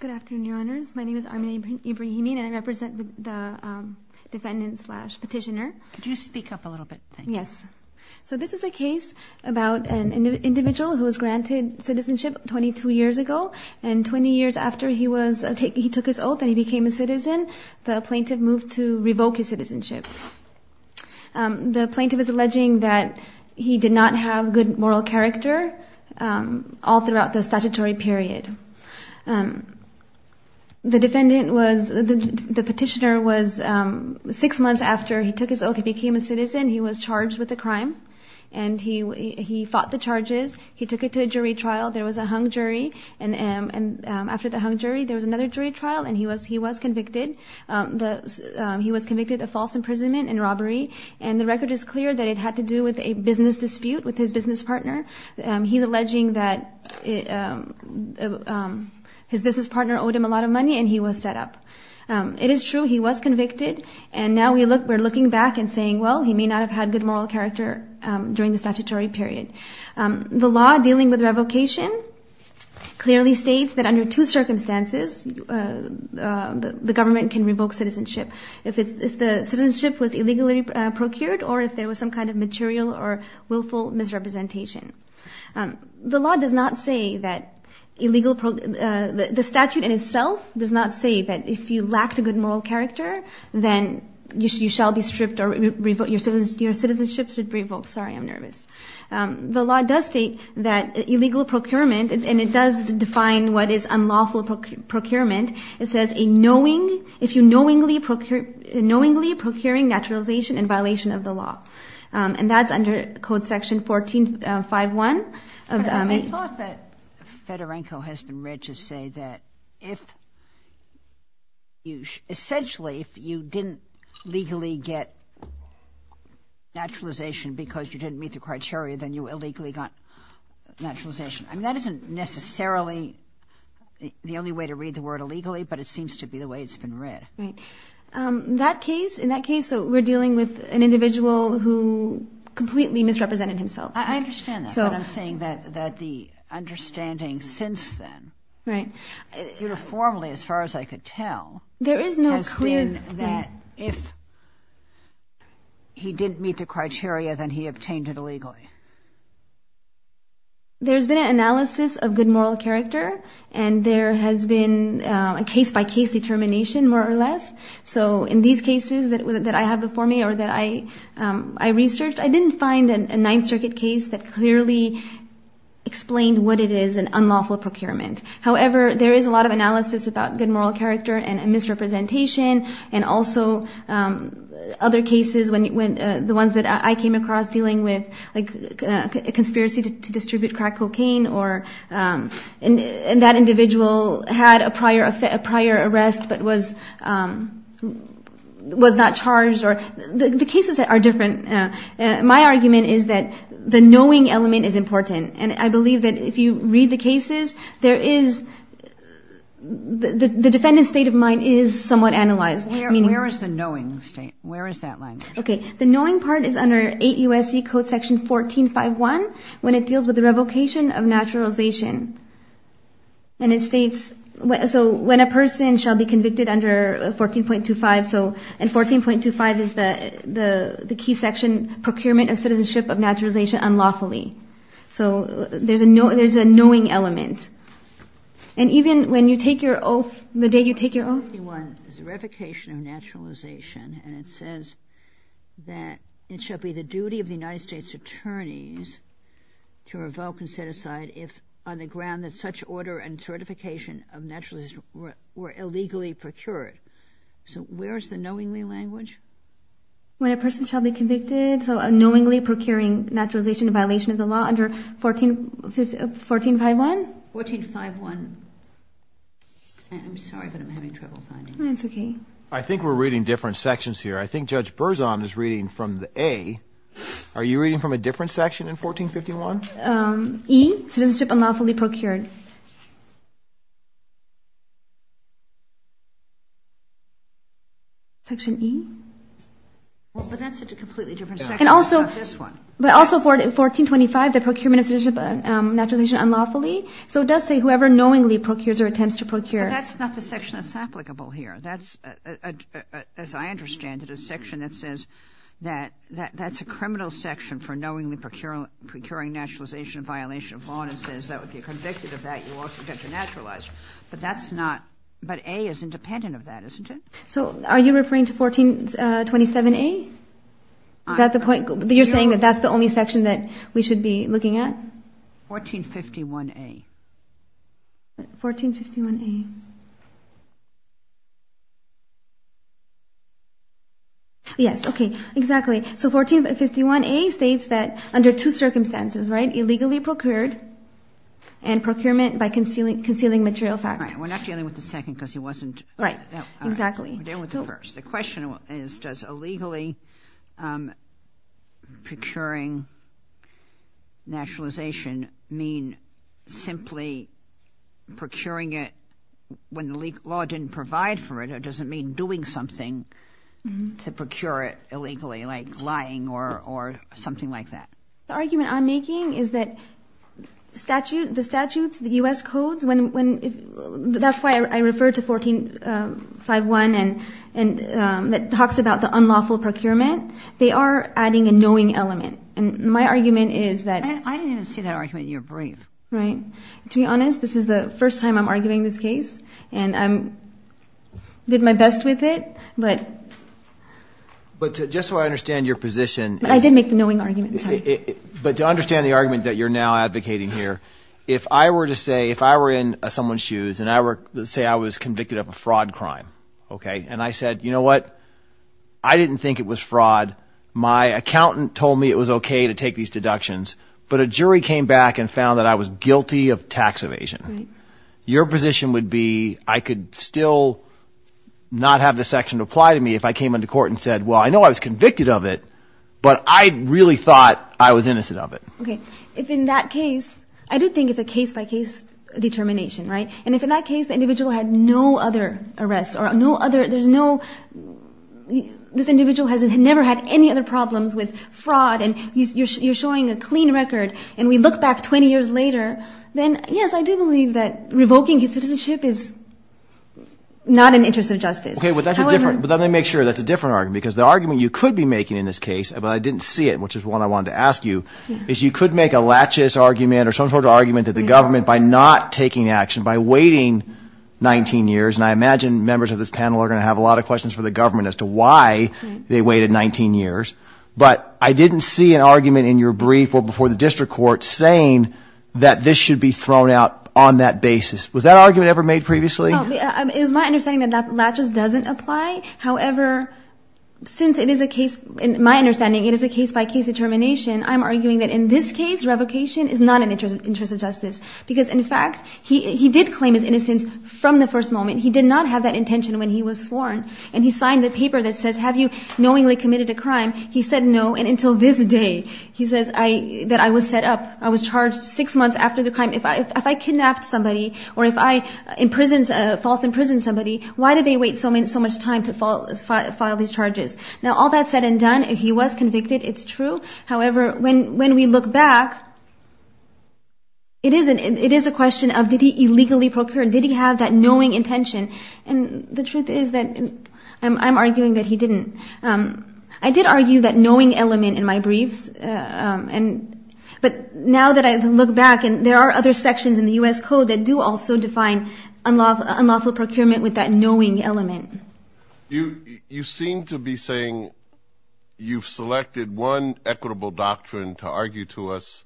Good afternoon, Your Honors. My name is Armin Ibrahimian, and I represent the defendant-slash-petitioner. Could you speak up a little bit? Thank you. Yes. So this is a case about an individual who was granted citizenship 22 years ago, and 20 years after he took his oath and he became a citizen, the plaintiff moved to revoke his citizenship. The plaintiff is alleging that he did not have good moral character all throughout the statutory period. The petitioner was, six months after he took his oath and became a citizen, he was charged with a crime, and he fought the charges. He took it to a jury trial. There was a hung jury, and after the hung jury, there was another jury trial, and he was convicted of false imprisonment and robbery, and the record is clear that it had to do with a business dispute with his business partner. He's alleging that his business partner owed him a lot of money, and he was set up. It is true he was convicted, and now we're looking back and saying, well, he may not have had good moral character during the statutory period. The law dealing with revocation clearly states that under two circumstances the government can revoke citizenship. If the citizenship was illegally procured or if there was some kind of material or willful misrepresentation. The statute in itself does not say that if you lacked a good moral character, then you shall be stripped or your citizenship should be revoked. Sorry, I'm nervous. The law does state that illegal procurement, and it does define what is unlawful procurement. It says if you're knowingly procuring naturalization in violation of the law, and that's under Code Section 1451. I thought that Fedorenko has been read to say that essentially if you didn't legally get naturalization because you didn't meet the criteria, then you illegally got naturalization. I mean, that isn't necessarily the only way to read the word illegally, but it seems to be the way it's been read. Right. In that case, we're dealing with an individual who completely misrepresented himself. I understand that, but I'm saying that the understanding since then, uniformly as far as I could tell, has been that if he didn't meet the criteria, then he obtained it illegally. There's been an analysis of good moral character, and there has been a case-by-case determination more or less. So in these cases that I have before me or that I researched, I didn't find a Ninth Circuit case that clearly explained what it is, an unlawful procurement. However, there is a lot of analysis about good moral character and misrepresentation, and also other cases, the ones that I came across dealing with, like a conspiracy to distribute crack cocaine, or that individual had a prior arrest but was not charged. The cases are different. My argument is that the knowing element is important, and I believe that if you read the cases, the defendant's state of mind is somewhat analyzed. Where is the knowing state? Where is that line? Okay, the knowing part is under 8 U.S.C. Code Section 1451 when it deals with the revocation of naturalization. And it states, so when a person shall be convicted under 14.25, and 14.25 is the key section, procurement of citizenship of naturalization unlawfully. So there's a knowing element. And even when you take your oath, the day you take your oath. Section 1451 is the revocation of naturalization, and it says that it shall be the duty of the United States attorneys to revoke and set aside if on the ground that such order and certification of naturalization were illegally procured. So where is the knowingly language? When a person shall be convicted, so knowingly procuring naturalization in violation of the law under 14.51? 14.51. I'm sorry, but I'm having trouble finding it. That's okay. I think we're reading different sections here. I think Judge Berzon is reading from the A. Are you reading from a different section in 14.51? E, citizenship unlawfully procured. Section E. But that's a completely different section than this one. But also 14.25, the procurement of citizenship of naturalization unlawfully. So it does say whoever knowingly procures or attempts to procure. But that's not the section that's applicable here. That's, as I understand it, a section that says that that's a criminal section for knowingly procuring naturalization in violation of law, and it says that if you're convicted of that, you also get to naturalize. But that's not – but A is independent of that, isn't it? So are you referring to 14.27A? Is that the point? You're saying that that's the only section that we should be looking at? 14.51A. 14.51A. Yes, okay, exactly. So 14.51A states that under two circumstances, right, illegally procured and procurement by concealing material fact. All right, we're not dealing with the second because he wasn't – Right, exactly. We're dealing with the first. The question is, does illegally procuring naturalization mean simply procuring it when the law didn't provide for it, or does it mean doing something to procure it illegally, like lying or something like that? The argument I'm making is that the statutes, the U.S. codes, that's why I referred to 14.51 that talks about the unlawful procurement. They are adding a knowing element, and my argument is that – I didn't even see that argument in your brief. Right. To be honest, this is the first time I'm arguing this case, and I did my best with it, but – But just so I understand your position – I did make the knowing argument, sorry. But to understand the argument that you're now advocating here, if I were to say – if I were in someone's shoes and I were to say I was convicted of a fraud crime, okay, and I said, you know what, I didn't think it was fraud. My accountant told me it was okay to take these deductions, but a jury came back and found that I was guilty of tax evasion. Your position would be I could still not have the section apply to me if I came into court and said, well, I know I was convicted of it, but I really thought I was innocent of it. Okay. If in that case – I do think it's a case-by-case determination, right? And if in that case the individual had no other arrests or no other – there's no – this individual has never had any other problems with fraud and you're showing a clean record, and we look back 20 years later, then yes, I do believe that revoking his citizenship is not in the interest of justice. Okay, but that's a different – but let me make sure that's a different argument, because the argument you could be making in this case, but I didn't see it, which is what I wanted to ask you, is you could make a laches argument or some sort of argument to the government by not taking action, by waiting 19 years, and I imagine members of this panel are going to have a lot of questions for the government as to why they waited 19 years, but I didn't see an argument in your brief or before the district court saying that this should be thrown out on that basis. Was that argument ever made previously? No. It is my understanding that that laches doesn't apply. However, since it is a case – in my understanding it is a case-by-case determination, I'm arguing that in this case revocation is not in the interest of justice, because, in fact, he did claim his innocence from the first moment. He did not have that intention when he was sworn, and he signed the paper that says, Have you knowingly committed a crime? He said no, and until this day, he says that I was set up. I was charged six months after the crime. If I kidnapped somebody or if I false imprisoned somebody, why did they wait so much time to file these charges? Now, all that said and done, he was convicted. It's true. However, when we look back, it is a question of did he illegally procure? Did he have that knowing intention? And the truth is that I'm arguing that he didn't. I did argue that knowing element in my briefs, but now that I look back and there are other sections in the U.S. Code that do also define unlawful procurement with that knowing element. You seem to be saying you've selected one equitable doctrine to argue to us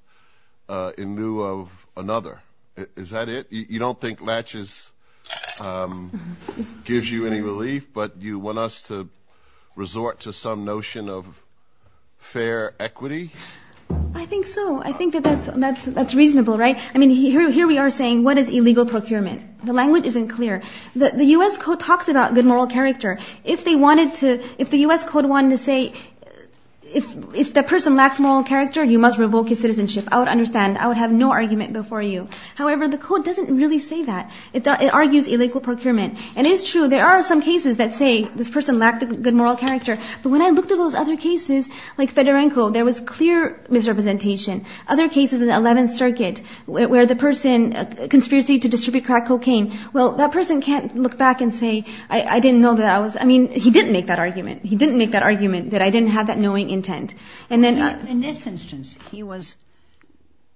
in lieu of another. Is that it? You don't think latches gives you any relief, but you want us to resort to some notion of fair equity? I think so. I think that that's reasonable, right? I mean, here we are saying what is illegal procurement. The language isn't clear. The U.S. Code talks about good moral character. If the U.S. Code wanted to say if the person lacks moral character, you must revoke his citizenship, I would understand. I would have no argument before you. However, the Code doesn't really say that. It argues illegal procurement, and it is true. There are some cases that say this person lacked good moral character, but when I looked at those other cases, like Fedorenko, there was clear misrepresentation. Other cases in the 11th Circuit where the person conspiracy to distribute crack cocaine, well, that person can't look back and say, I didn't know that I was – I mean, he didn't make that argument. He didn't make that argument that I didn't have that knowing intent. In this instance, he was –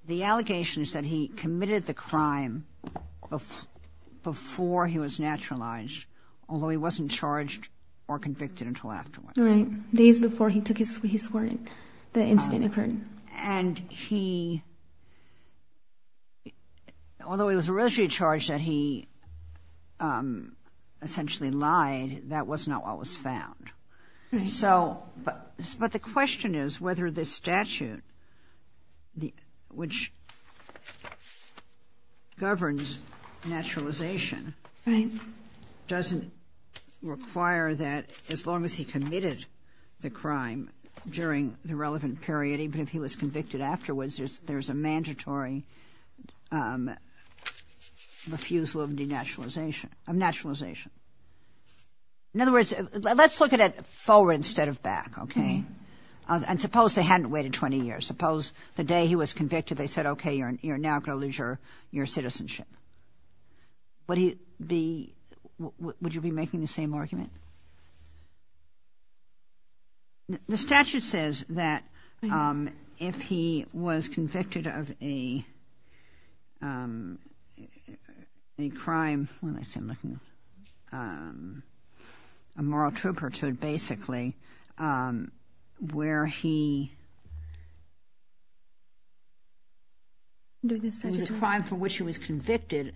the allegation is that he committed the crime before he was naturalized, although he wasn't charged or convicted until afterwards. Right. Days before he took his sworn in, the incident occurred. And he – although he was originally charged that he essentially lied, that was not what was found. So – but the question is whether this statute, which governs naturalization, doesn't require that as long as he committed the crime during the relevant period, even if he was convicted afterwards, there's a mandatory refusal of denaturalization – of naturalization. In other words, let's look at it forward instead of back, okay? And suppose they hadn't waited 20 years. Suppose the day he was convicted they said, okay, you're now going to lose your citizenship. Would he be – would you be making the same argument? The statute says that if he was convicted of a crime – a moral turpitude, basically, where he – It was a crime for which he was convicted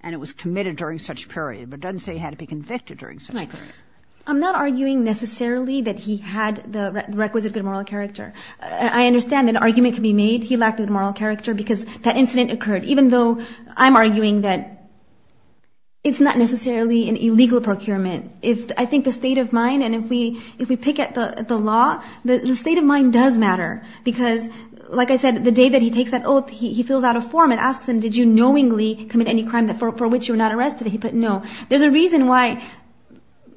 and it was committed during such period. But it doesn't say he had to be convicted during such period. Right. I'm not arguing necessarily that he had the requisite good moral character. I understand that an argument can be made he lacked good moral character because that incident occurred, even though I'm arguing that it's not necessarily an illegal procurement. If – I think the state of mind and if we – if we pick at the law, the state of mind does matter because, like I said, the day that he takes that oath he feels out of form and asks them, did you knowingly commit any crime for which you were not arrested? He put no. There's a reason why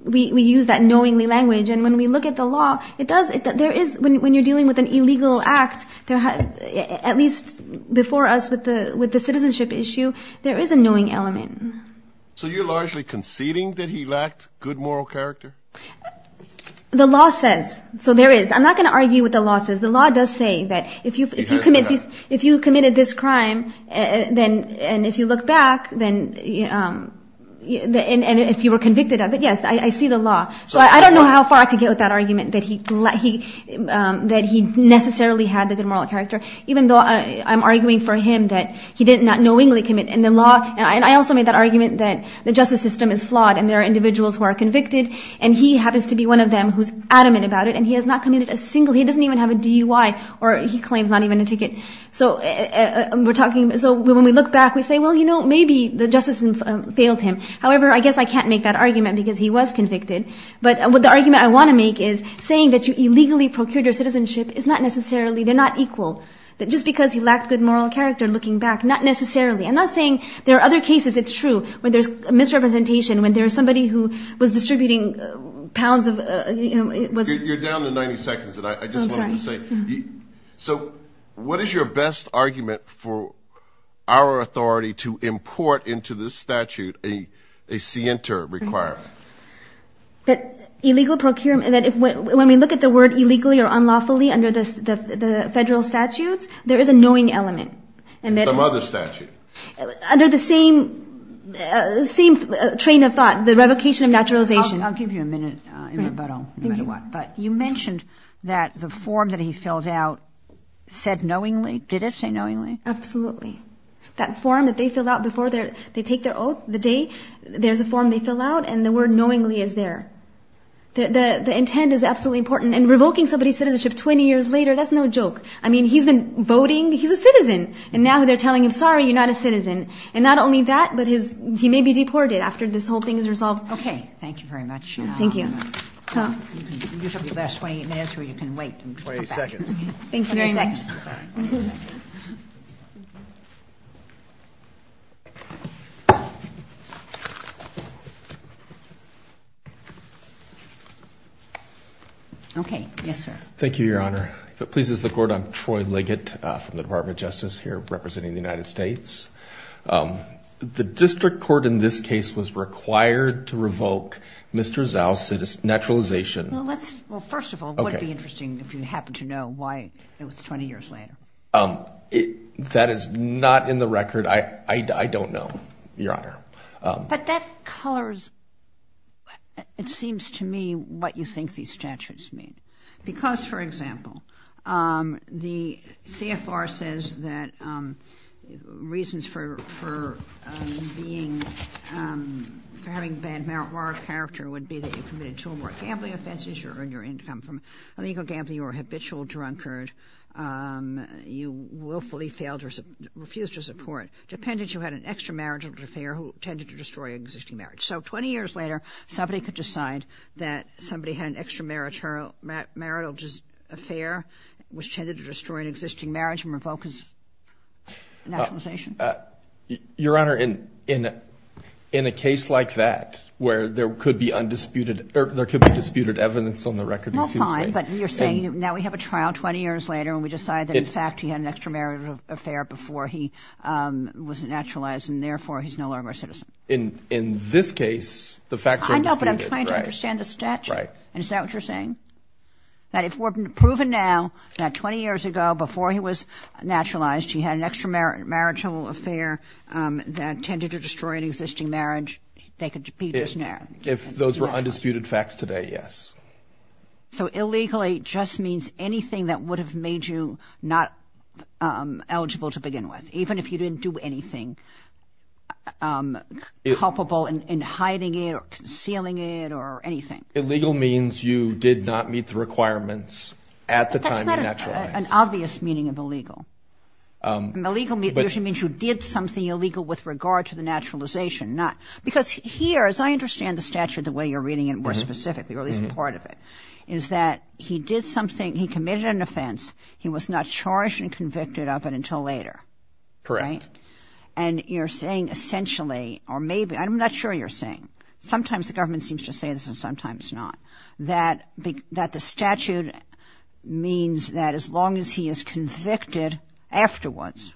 we use that knowingly language and when we look at the law, it does – there is – when you're dealing with an illegal act, at least before us with the citizenship issue, there is a knowing element. So you're largely conceding that he lacked good moral character? The law says. So there is. I'm not going to argue what the law says. The law does say that if you – It has to have. then – and if you look back, then – and if you were convicted of it, yes, I see the law. So I don't know how far I could get with that argument that he – that he necessarily had the good moral character, even though I'm arguing for him that he did not knowingly commit. And the law – and I also made that argument that the justice system is flawed and there are individuals who are convicted and he happens to be one of them who's adamant about it and he has not committed a single – he doesn't even have a DUI or he claims not even a ticket. So we're talking – so when we look back, we say, well, you know, maybe the justice system failed him. However, I guess I can't make that argument because he was convicted. But the argument I want to make is saying that you illegally procured your citizenship is not necessarily – they're not equal. Just because he lacked good moral character, looking back, not necessarily. I'm not saying there are other cases it's true when there's misrepresentation, when there's somebody who was distributing pounds of – Oh, I'm sorry. So what is your best argument for our authority to import into this statute a scienter requirement? That illegal procurement – that when we look at the word illegally or unlawfully under the federal statutes, there is a knowing element. Some other statute. Under the same train of thought, the revocation of naturalization. I'll give you a minute in rebuttal, no matter what. But you mentioned that the form that he filled out said knowingly. Did it say knowingly? Absolutely. That form that they fill out before they take their oath, the day, there's a form they fill out, and the word knowingly is there. The intent is absolutely important. And revoking somebody's citizenship 20 years later, that's no joke. I mean, he's been voting. He's a citizen. And now they're telling him, sorry, you're not a citizen. And not only that, but he may be deported after this whole thing is resolved. Okay, thank you very much. Thank you. This will be the last 20 minutes, or you can wait. 20 seconds. Thank you very much. 20 seconds, sorry. Okay, yes, sir. Thank you, Your Honor. If it pleases the Court, I'm Troy Liggett from the Department of Justice here representing the United States. The district court in this case was required to revoke Mr. Zhao's naturalization. Well, first of all, it would be interesting if you happen to know why it was 20 years later. That is not in the record. I don't know, Your Honor. But that colors, it seems to me, what you think these statutes mean. Because, for example, the CFR says that reasons for being, for having bad moral character would be that you committed two or more gambling offenses. You earned your income from illegal gambling. You were a habitual drunkard. You willfully failed or refused to support. Dependent, you had an extra marital affair who tended to destroy your existing marriage. So 20 years later, somebody could decide that somebody had an extra marital affair which tended to destroy an existing marriage and revoke his naturalization? Your Honor, in a case like that where there could be undisputed, or there could be disputed evidence on the record, it seems to me. Well, fine, but you're saying now we have a trial 20 years later and we decide that, in fact, he had an extra marital affair before he was naturalized, and, therefore, he's no longer a citizen. In this case, the facts are undisputed. I know, but I'm trying to understand the statute. Right. Is that what you're saying? That if it were proven now that 20 years ago, before he was naturalized, he had an extra marital affair that tended to destroy an existing marriage, they could be just naturalized? If those were undisputed facts today, yes. So illegally just means anything that would have made you not eligible to begin with, even if you didn't do anything culpable in hiding it or concealing it or anything? Illegal means you did not meet the requirements at the time you naturalized. That's not an obvious meaning of illegal. Illegal usually means you did something illegal with regard to the naturalization. Because here, as I understand the statute the way you're reading it more specifically, or at least part of it, is that he did something, he committed an offense, he was not charged and convicted of it until later. Correct. And you're saying essentially, or maybe, I'm not sure you're saying, sometimes the government seems to say this and sometimes not, that the statute means that as long as he is convicted afterwards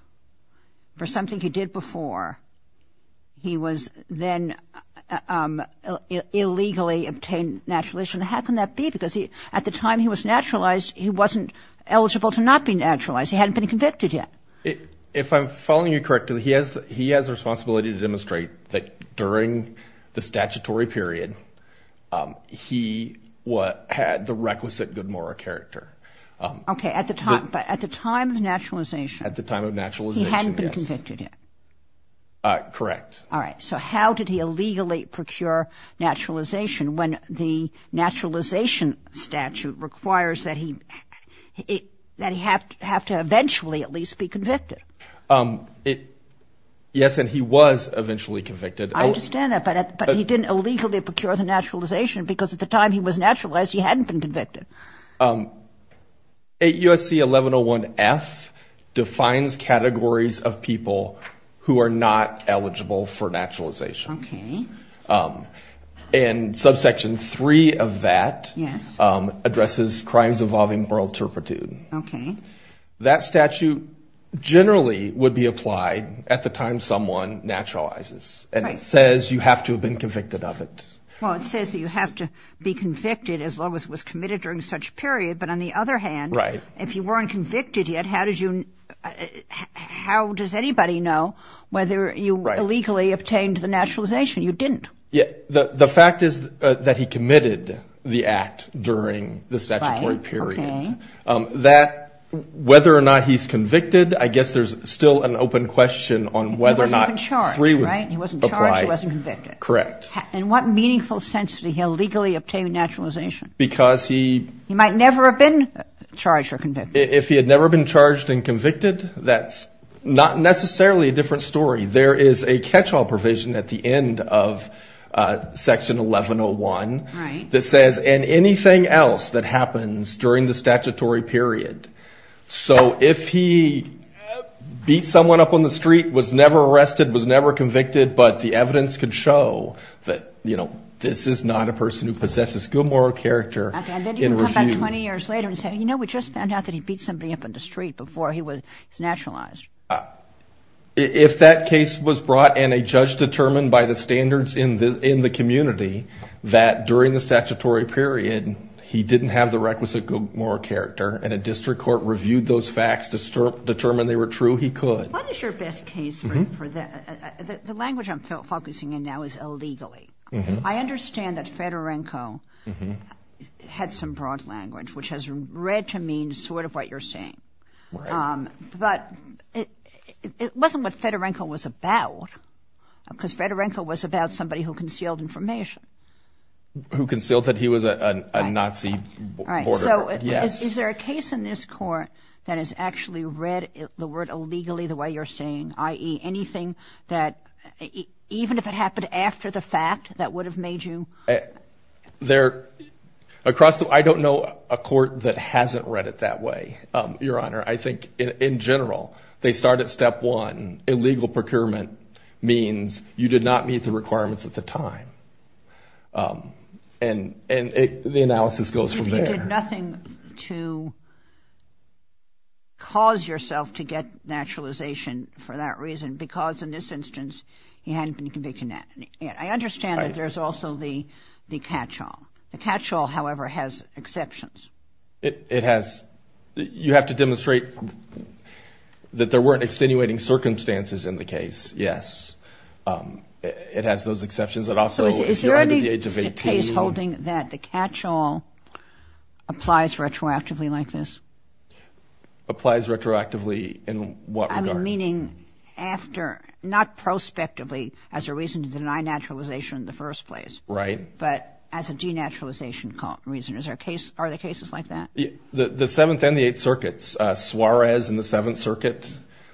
for something he did before, he was then illegally obtained naturalization. How can that be? Because at the time he was naturalized, he wasn't eligible to not be naturalized. He hadn't been convicted yet. If I'm following you correctly, he has the responsibility to demonstrate that during the statutory period, he had the requisite good moral character. Okay. But at the time of naturalization? At the time of naturalization, yes. He hadn't been convicted yet? Correct. All right. So how did he illegally procure naturalization when the naturalization statute requires that he have to eventually at least be convicted? Yes, and he was eventually convicted. I understand that. But he didn't illegally procure the naturalization because at the time he was naturalized, he hadn't been convicted. USC 1101F defines categories of people who are not eligible for naturalization. Okay. And subsection 3 of that addresses crimes involving moral turpitude. Okay. That statute generally would be applied at the time someone naturalizes. Right. And it says you have to have been convicted of it. Well, it says that you have to be convicted as long as it was committed during such a period. But on the other hand, if you weren't convicted yet, how does anybody know whether you illegally obtained the naturalization? You didn't. The fact is that he committed the act during the statutory period. Right. Okay. Whether or not he's convicted, I guess there's still an open question on whether or not 3 would apply. He wasn't charged, right? He wasn't charged. He wasn't convicted. Correct. In what meaningful sense did he illegally obtain naturalization? Because he... He might never have been charged or convicted. If he had never been charged and convicted, that's not necessarily a different story. There is a catch-all provision at the end of Section 1101 that says, and anything else that happens during the statutory period. So if he beat someone up on the street, was never arrested, was never convicted, but the evidence could show that, you know, this is not a person who possesses good moral character in review. Okay. And then you come back 20 years later and say, you know, we just found out that he beat somebody up on the street before he was naturalized. If that case was brought and a judge determined by the standards in the community that during the statutory period he didn't have the requisite good moral character and a district court reviewed those facts to determine they were true, he could. What is your best case for that? The language I'm focusing in now is illegally. I understand that Fedorenko had some broad language, which has read to mean sort of what you're saying. But it wasn't what Fedorenko was about, because Fedorenko was about somebody who concealed information. Who concealed that he was a Nazi. Right. So is there a case in this court that has actually read the word illegally the way you're saying, i.e., anything that, even if it happened after the fact, that would have made you? I don't know a court that hasn't read it that way, Your Honor. I think in general they start at step one. Illegal procurement means you did not meet the requirements at the time. And the analysis goes from there. So there's nothing to cause yourself to get naturalization for that reason, because in this instance he hadn't been convicted in that. I understand that there's also the catch-all. The catch-all, however, has exceptions. It has. You have to demonstrate that there weren't extenuating circumstances in the case, yes. It has those exceptions. So is there any case holding that the catch-all applies retroactively like this? Applies retroactively in what regard? Meaning after, not prospectively as a reason to deny naturalization in the first place. Right. But as a denaturalization reason. Are there cases like that? The Seventh and the Eighth Circuits. Suarez in the Seventh Circuit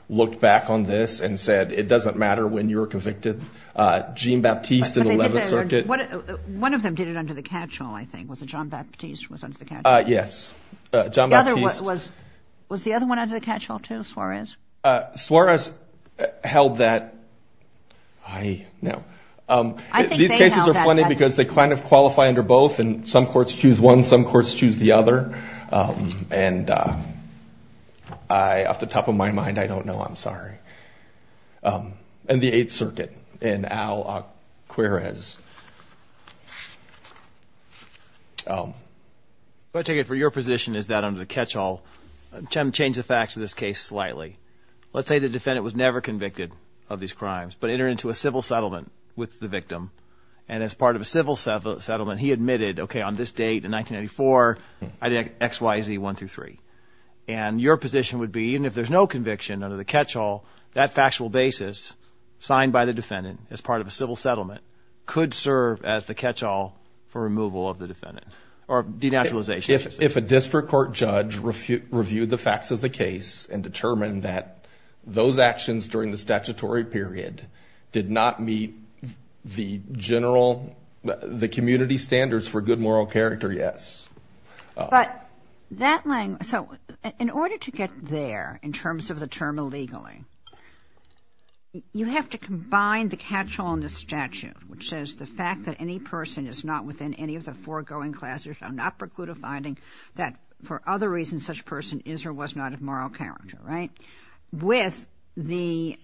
looked back on this and said, it doesn't matter when you were convicted. Jean Baptiste in the Eleventh Circuit. One of them did it under the catch-all, I think. Was it John Baptiste was under the catch-all? Yes. John Baptiste. Was the other one under the catch-all too, Suarez? Suarez held that. I know. These cases are funny because they kind of qualify under both, and some courts choose one, some courts choose the other. And off the top of my mind, I don't know. I'm sorry. In the Eighth Circuit, in Al-Akwarez. What I take it for your position is that under the catch-all, I'm trying to change the facts of this case slightly. Let's say the defendant was never convicted of these crimes, but entered into a civil settlement with the victim. And as part of a civil settlement, he admitted, okay, on this date in 1994, I did X, Y, Z, one through three. And your position would be, even if there's no conviction under the catch-all, that factual basis signed by the defendant as part of a civil settlement could serve as the catch-all for removal of the defendant, or denaturalization, I should say. If a district court judge reviewed the facts of the case and determined that those actions during the statutory period did not meet the general, the community standards for good moral character, yes. But that language... So in order to get there in terms of the term illegally, you have to combine the catch-all in the statute, which says the fact that any person is not within any of the foregoing classes shall not preclude a finding that, for other reasons, such a person is or was not of moral character, right? With the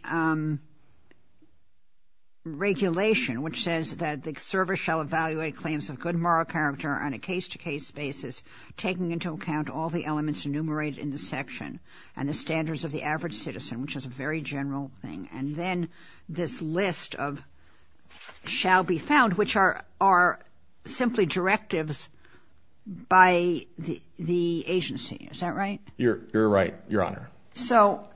regulation which says that the service shall evaluate claims of good moral character on a case-to-case basis, taking into account all the elements enumerated in the section and the standards of the average citizen, which is a very general thing. And then this list of shall be found, which are simply directives by the agency. Is that right? You're right, Your Honor. So,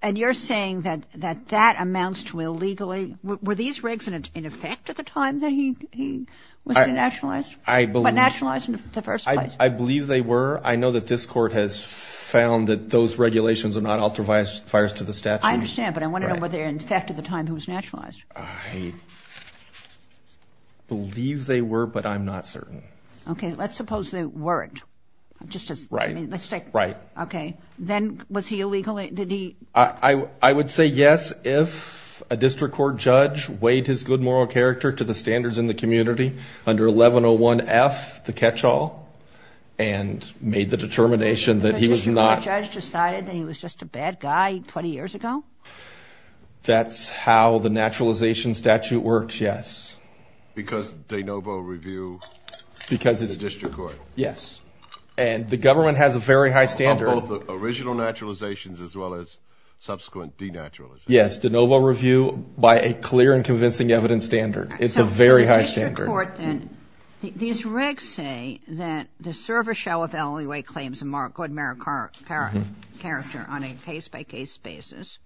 and you're saying that that amounts to illegally... Were these regs in effect at the time that he was denationalized? I believe... But nationalized in the first place. I believe they were. I know that this Court has found that those regulations are not altruistic to the statute. I understand, but I want to know whether they were in effect at the time he was nationalized. I believe they were, but I'm not certain. Okay, let's suppose they weren't. Just as, I mean, let's take... Right, right. Okay. Then was he illegally, did he... I would say yes if a district court judge weighed his good moral character to the standards in the community under 1101F, the catch-all, and made the determination that he was not... A district court judge decided that he was just a bad guy 20 years ago? That's how the naturalization statute works, yes. Because de novo review of the district court. Yes. And the government has a very high standard... For original naturalizations as well as subsequent denaturalizations. Yes, de novo review by a clear and convincing evidence standard. It's a very high standard. So for the district court, then, these regs say that the service shall evaluate claims of good moral character on a case-by-case basis,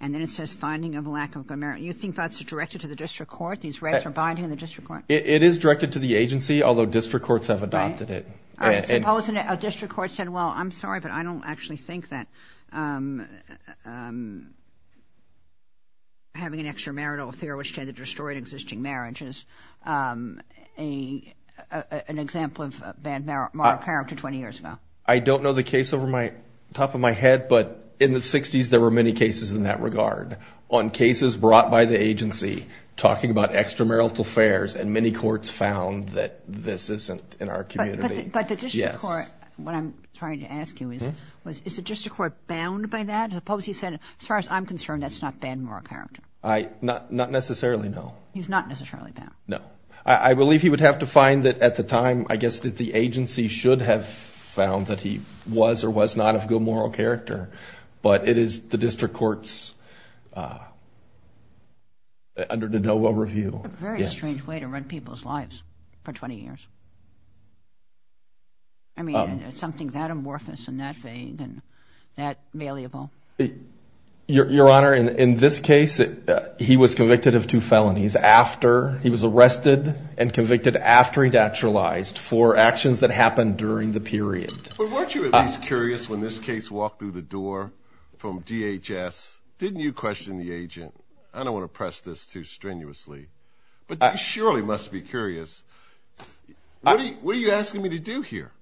and then it says finding of lack of good moral... You think that's directed to the district court? These regs are binding the district court? It is directed to the agency, although district courts have adopted it. I suppose a district court said, well, I'm sorry, but I don't actually think that having an extramarital affair which tended to destroy an existing marriage is an example of bad moral character 20 years ago. I don't know the case off the top of my head, but in the 60s there were many cases in that regard, on cases brought by the agency talking about extramarital affairs, and many courts found that this isn't in our community. But the district court, what I'm trying to ask you is, is the district court bound by that? I suppose he said, as far as I'm concerned, that's not bad moral character. Not necessarily, no. He's not necessarily bound? No. I believe he would have to find that at the time, I guess that the agency should have found that he was or was not of good moral character, but it is the district court's under de novo review. It's a very strange way to run people's lives for 20 years. I mean, something that amorphous and that vague and that malleable. Your Honor, in this case he was convicted of two felonies after he was arrested and convicted after he'd actualized for actions that happened during the period. Weren't you at least curious when this case walked through the door from DHS, didn't you question the agent? I don't want to press this too strenuously, but you surely must be curious. What are you asking me to do here?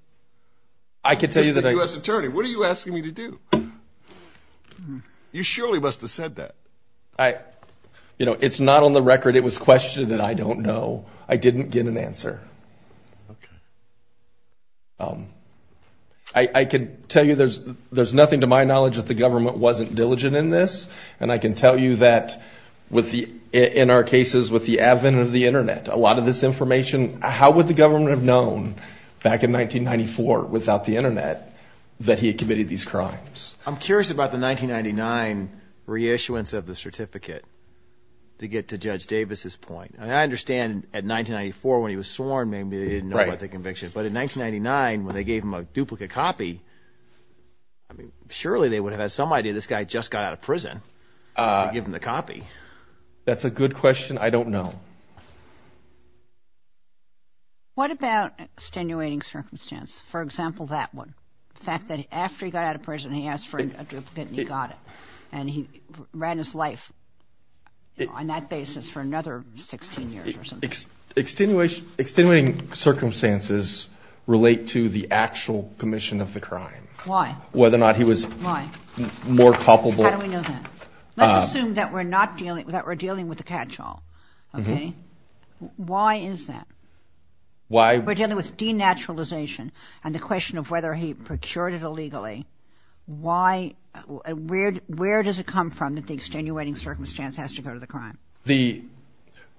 I could tell you that I was an attorney. What are you asking me to do? You surely must have said that. You know, it's not on the record it was questioned that I don't know. I didn't get an answer. I can tell you there's nothing to my knowledge that the government wasn't diligent in this, and I can tell you that in our cases with the advent of the Internet, a lot of this information, how would the government have known back in 1994 without the Internet that he had committed these crimes? I'm curious about the 1999 reissuance of the certificate to get to Judge Davis's point. I understand at 1994 when he was sworn maybe they didn't know about the conviction, but in 1999 when they gave him a duplicate copy, I mean, surely they would have had some idea this guy just got out of prison to give him the copy. That's a good question. I don't know. What about extenuating circumstance? For example, that one, the fact that after he got out of prison he asked for a duplicate and he got it, and he ran his life on that basis for another 16 years or something. Extenuating circumstances relate to the actual commission of the crime. Why? Whether or not he was more culpable. How do we know that? Let's assume that we're dealing with a catch-all, okay? Why is that? We're dealing with denaturalization and the question of whether he procured it illegally. Where does it come from that the extenuating circumstance has to go to the crime?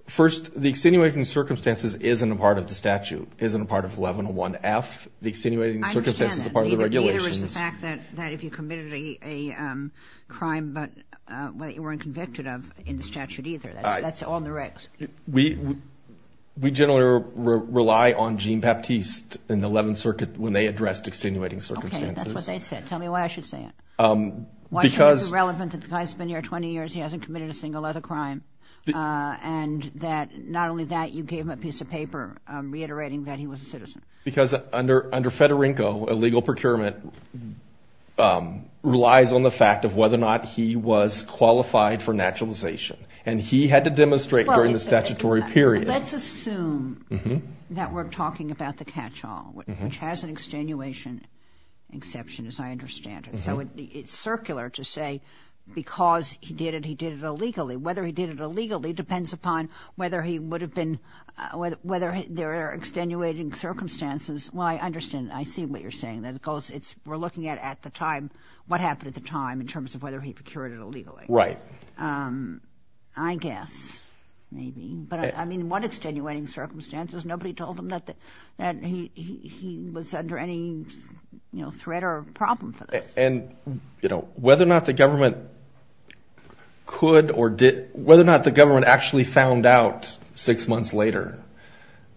First, the extenuating circumstances isn't a part of the statute, isn't a part of 1101F. The extenuating circumstances is a part of the regulations. I understand that. Neither is the fact that if you committed a crime that you weren't convicted of in the statute either. That's on the regs. We generally rely on Jean Baptiste in the Eleventh Circuit when they addressed extenuating circumstances. Okay, that's what they said. Tell me why I should say it. Why should it be relevant that the guy's been here 20 years, he hasn't committed a single other crime, and that not only that, you gave him a piece of paper reiterating that he was a citizen. Because under Federico, illegal procurement relies on the fact of whether or not he was qualified for naturalization. And he had to demonstrate during the statutory period. Let's assume that we're talking about the catch-all, which has an extenuation exception, as I understand it. It's circular to say because he did it, he did it illegally. Whether he did it illegally depends upon whether there are extenuating circumstances. Well, I understand. I see what you're saying. We're looking at what happened at the time in terms of whether he procured it illegally. Right. I guess, maybe. But I mean, what extenuating circumstances? Nobody told him that he was under any threat or problem for this. And, you know, whether or not the government could or did, whether or not the government actually found out six months later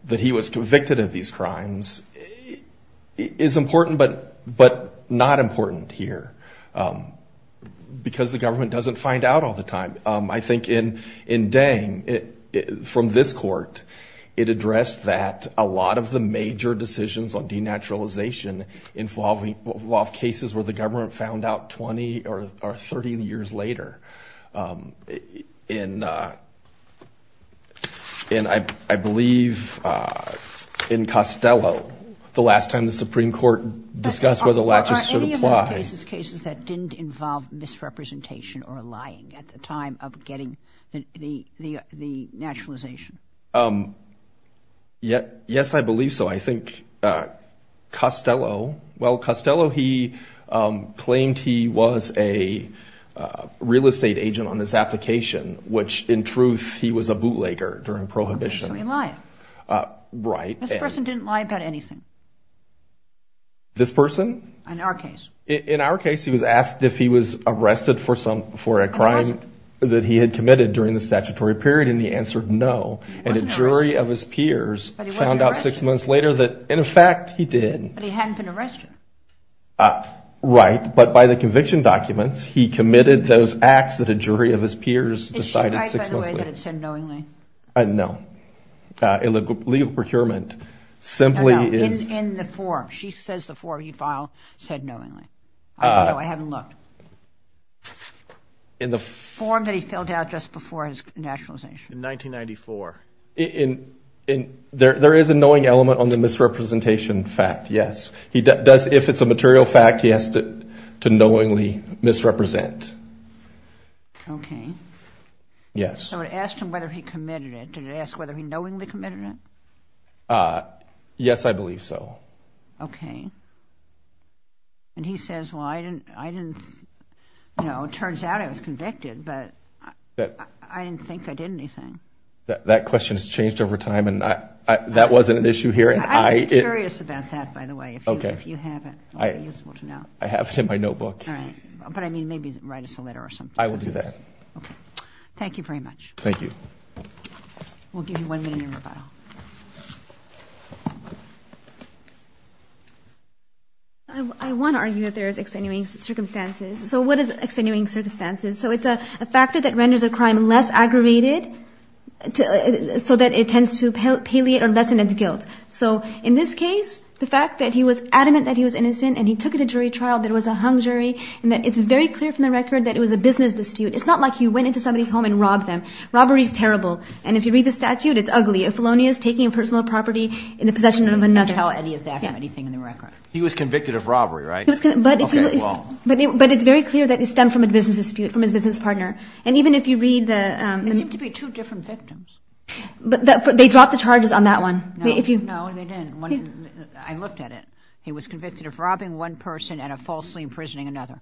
that he was convicted of these crimes is important, but not important here because the government doesn't find out all the time. I think in Dang, from this court, it addressed that a lot of the major decisions on denaturalization involved cases where the government found out 20 or 30 years later. And I believe in Costello, the last time the Supreme Court discussed whether latches should apply. Any of those cases, cases that didn't involve misrepresentation or lying at the time of getting the naturalization? Yes, I believe so. I think Costello, well, Costello, he claimed he was a real estate agent on his application, which, in truth, he was a bootlegger during Prohibition. So he lied. Right. This person didn't lie about anything. This person? In our case. In our case, he was asked if he was arrested for a crime that he had committed during the statutory period, and he answered no. And a jury of his peers found out six months later that, in fact, he did. But he hadn't been arrested. Right. But by the conviction documents, he committed those acts that a jury of his peers decided six months later. Is she right, by the way, that it said knowingly? No. Legal procurement simply is. No, no, in the form. She says the form he filed said knowingly. I don't know. I haven't looked. In the form that he filled out just before his naturalization. In 1994. There is a knowing element on the misrepresentation fact, yes. He does, if it's a material fact, he has to knowingly misrepresent. Okay. Yes. So it asked him whether he committed it. Did it ask whether he knowingly committed it? Yes, I believe so. Okay. And he says, well, I didn't, you know, it turns out I was convicted, but I didn't think I did anything. That question has changed over time, and that wasn't an issue here. I'm curious about that, by the way, if you have it. I have it in my notebook. All right. But, I mean, maybe write us a letter or something. I will do that. Okay. Thank you very much. Thank you. We'll give you one minute in rebuttal. I want to argue that there is extenuating circumstances. So what is extenuating circumstances? So it's a factor that renders a crime less aggravated so that it tends to palliate or lessen its guilt. So in this case, the fact that he was adamant that he was innocent and he took it to jury trial, that it was a hung jury, and that it's very clear from the record that it was a business dispute. It's not like he went into somebody's home and robbed them. Robbery is terrible. And if you read the statute, it's ugly. A felonious taking a personal property in the possession of another. He didn't even tell any of that or anything in the record. He was convicted of robbery, right? Okay, well. But it's very clear that it stemmed from a business dispute, from his business partner. And even if you read the... They seem to be two different victims. They dropped the charges on that one. No, they didn't. I looked at it. He was convicted of robbing one person and of falsely imprisoning another.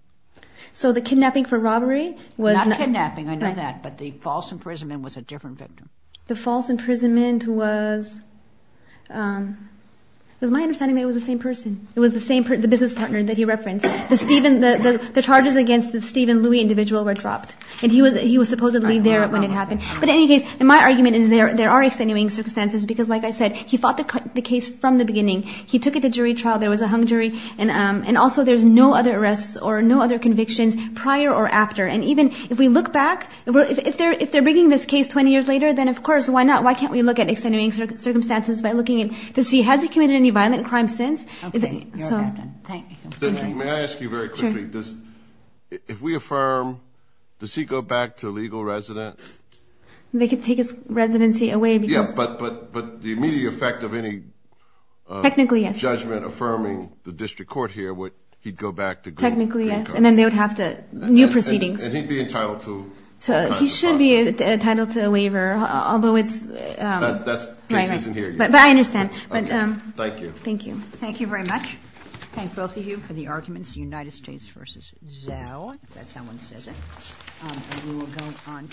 So the kidnapping for robbery was... Not kidnapping, I know that. But the false imprisonment was a different victim. The false imprisonment was... It was my understanding that it was the same person. It was the same business partner that he referenced. The Stephen... The charges against the Stephen Louis individual were dropped. And he was supposedly there when it happened. But in any case, my argument is there are extenuating circumstances because, like I said, he fought the case from the beginning. He took it to jury trial. There was a hung jury. And also there's no other arrests or no other convictions prior or after. And even if we look back... If they're bringing this case 20 years later, then, of course, why not? Why can't we look at extenuating circumstances by looking to see, has he committed any violent crimes since? Okay. Thank you. May I ask you very quickly? Sure. If we affirm, does he go back to legal residence? They could take his residency away because... Yeah, but the immediate effect of any... Technically, yes. Judgment affirming the district court here would... He'd go back to... Technically, yes. And then they would have to... New proceedings. And he'd be entitled to... So he should be entitled to a waiver. Although it's... That's... Right, right. But I understand. Okay. Thank you. Thank you. Thank you very much. Thank both of you for the arguments. United States v. Zell, if that's how one says it. And we will go on to...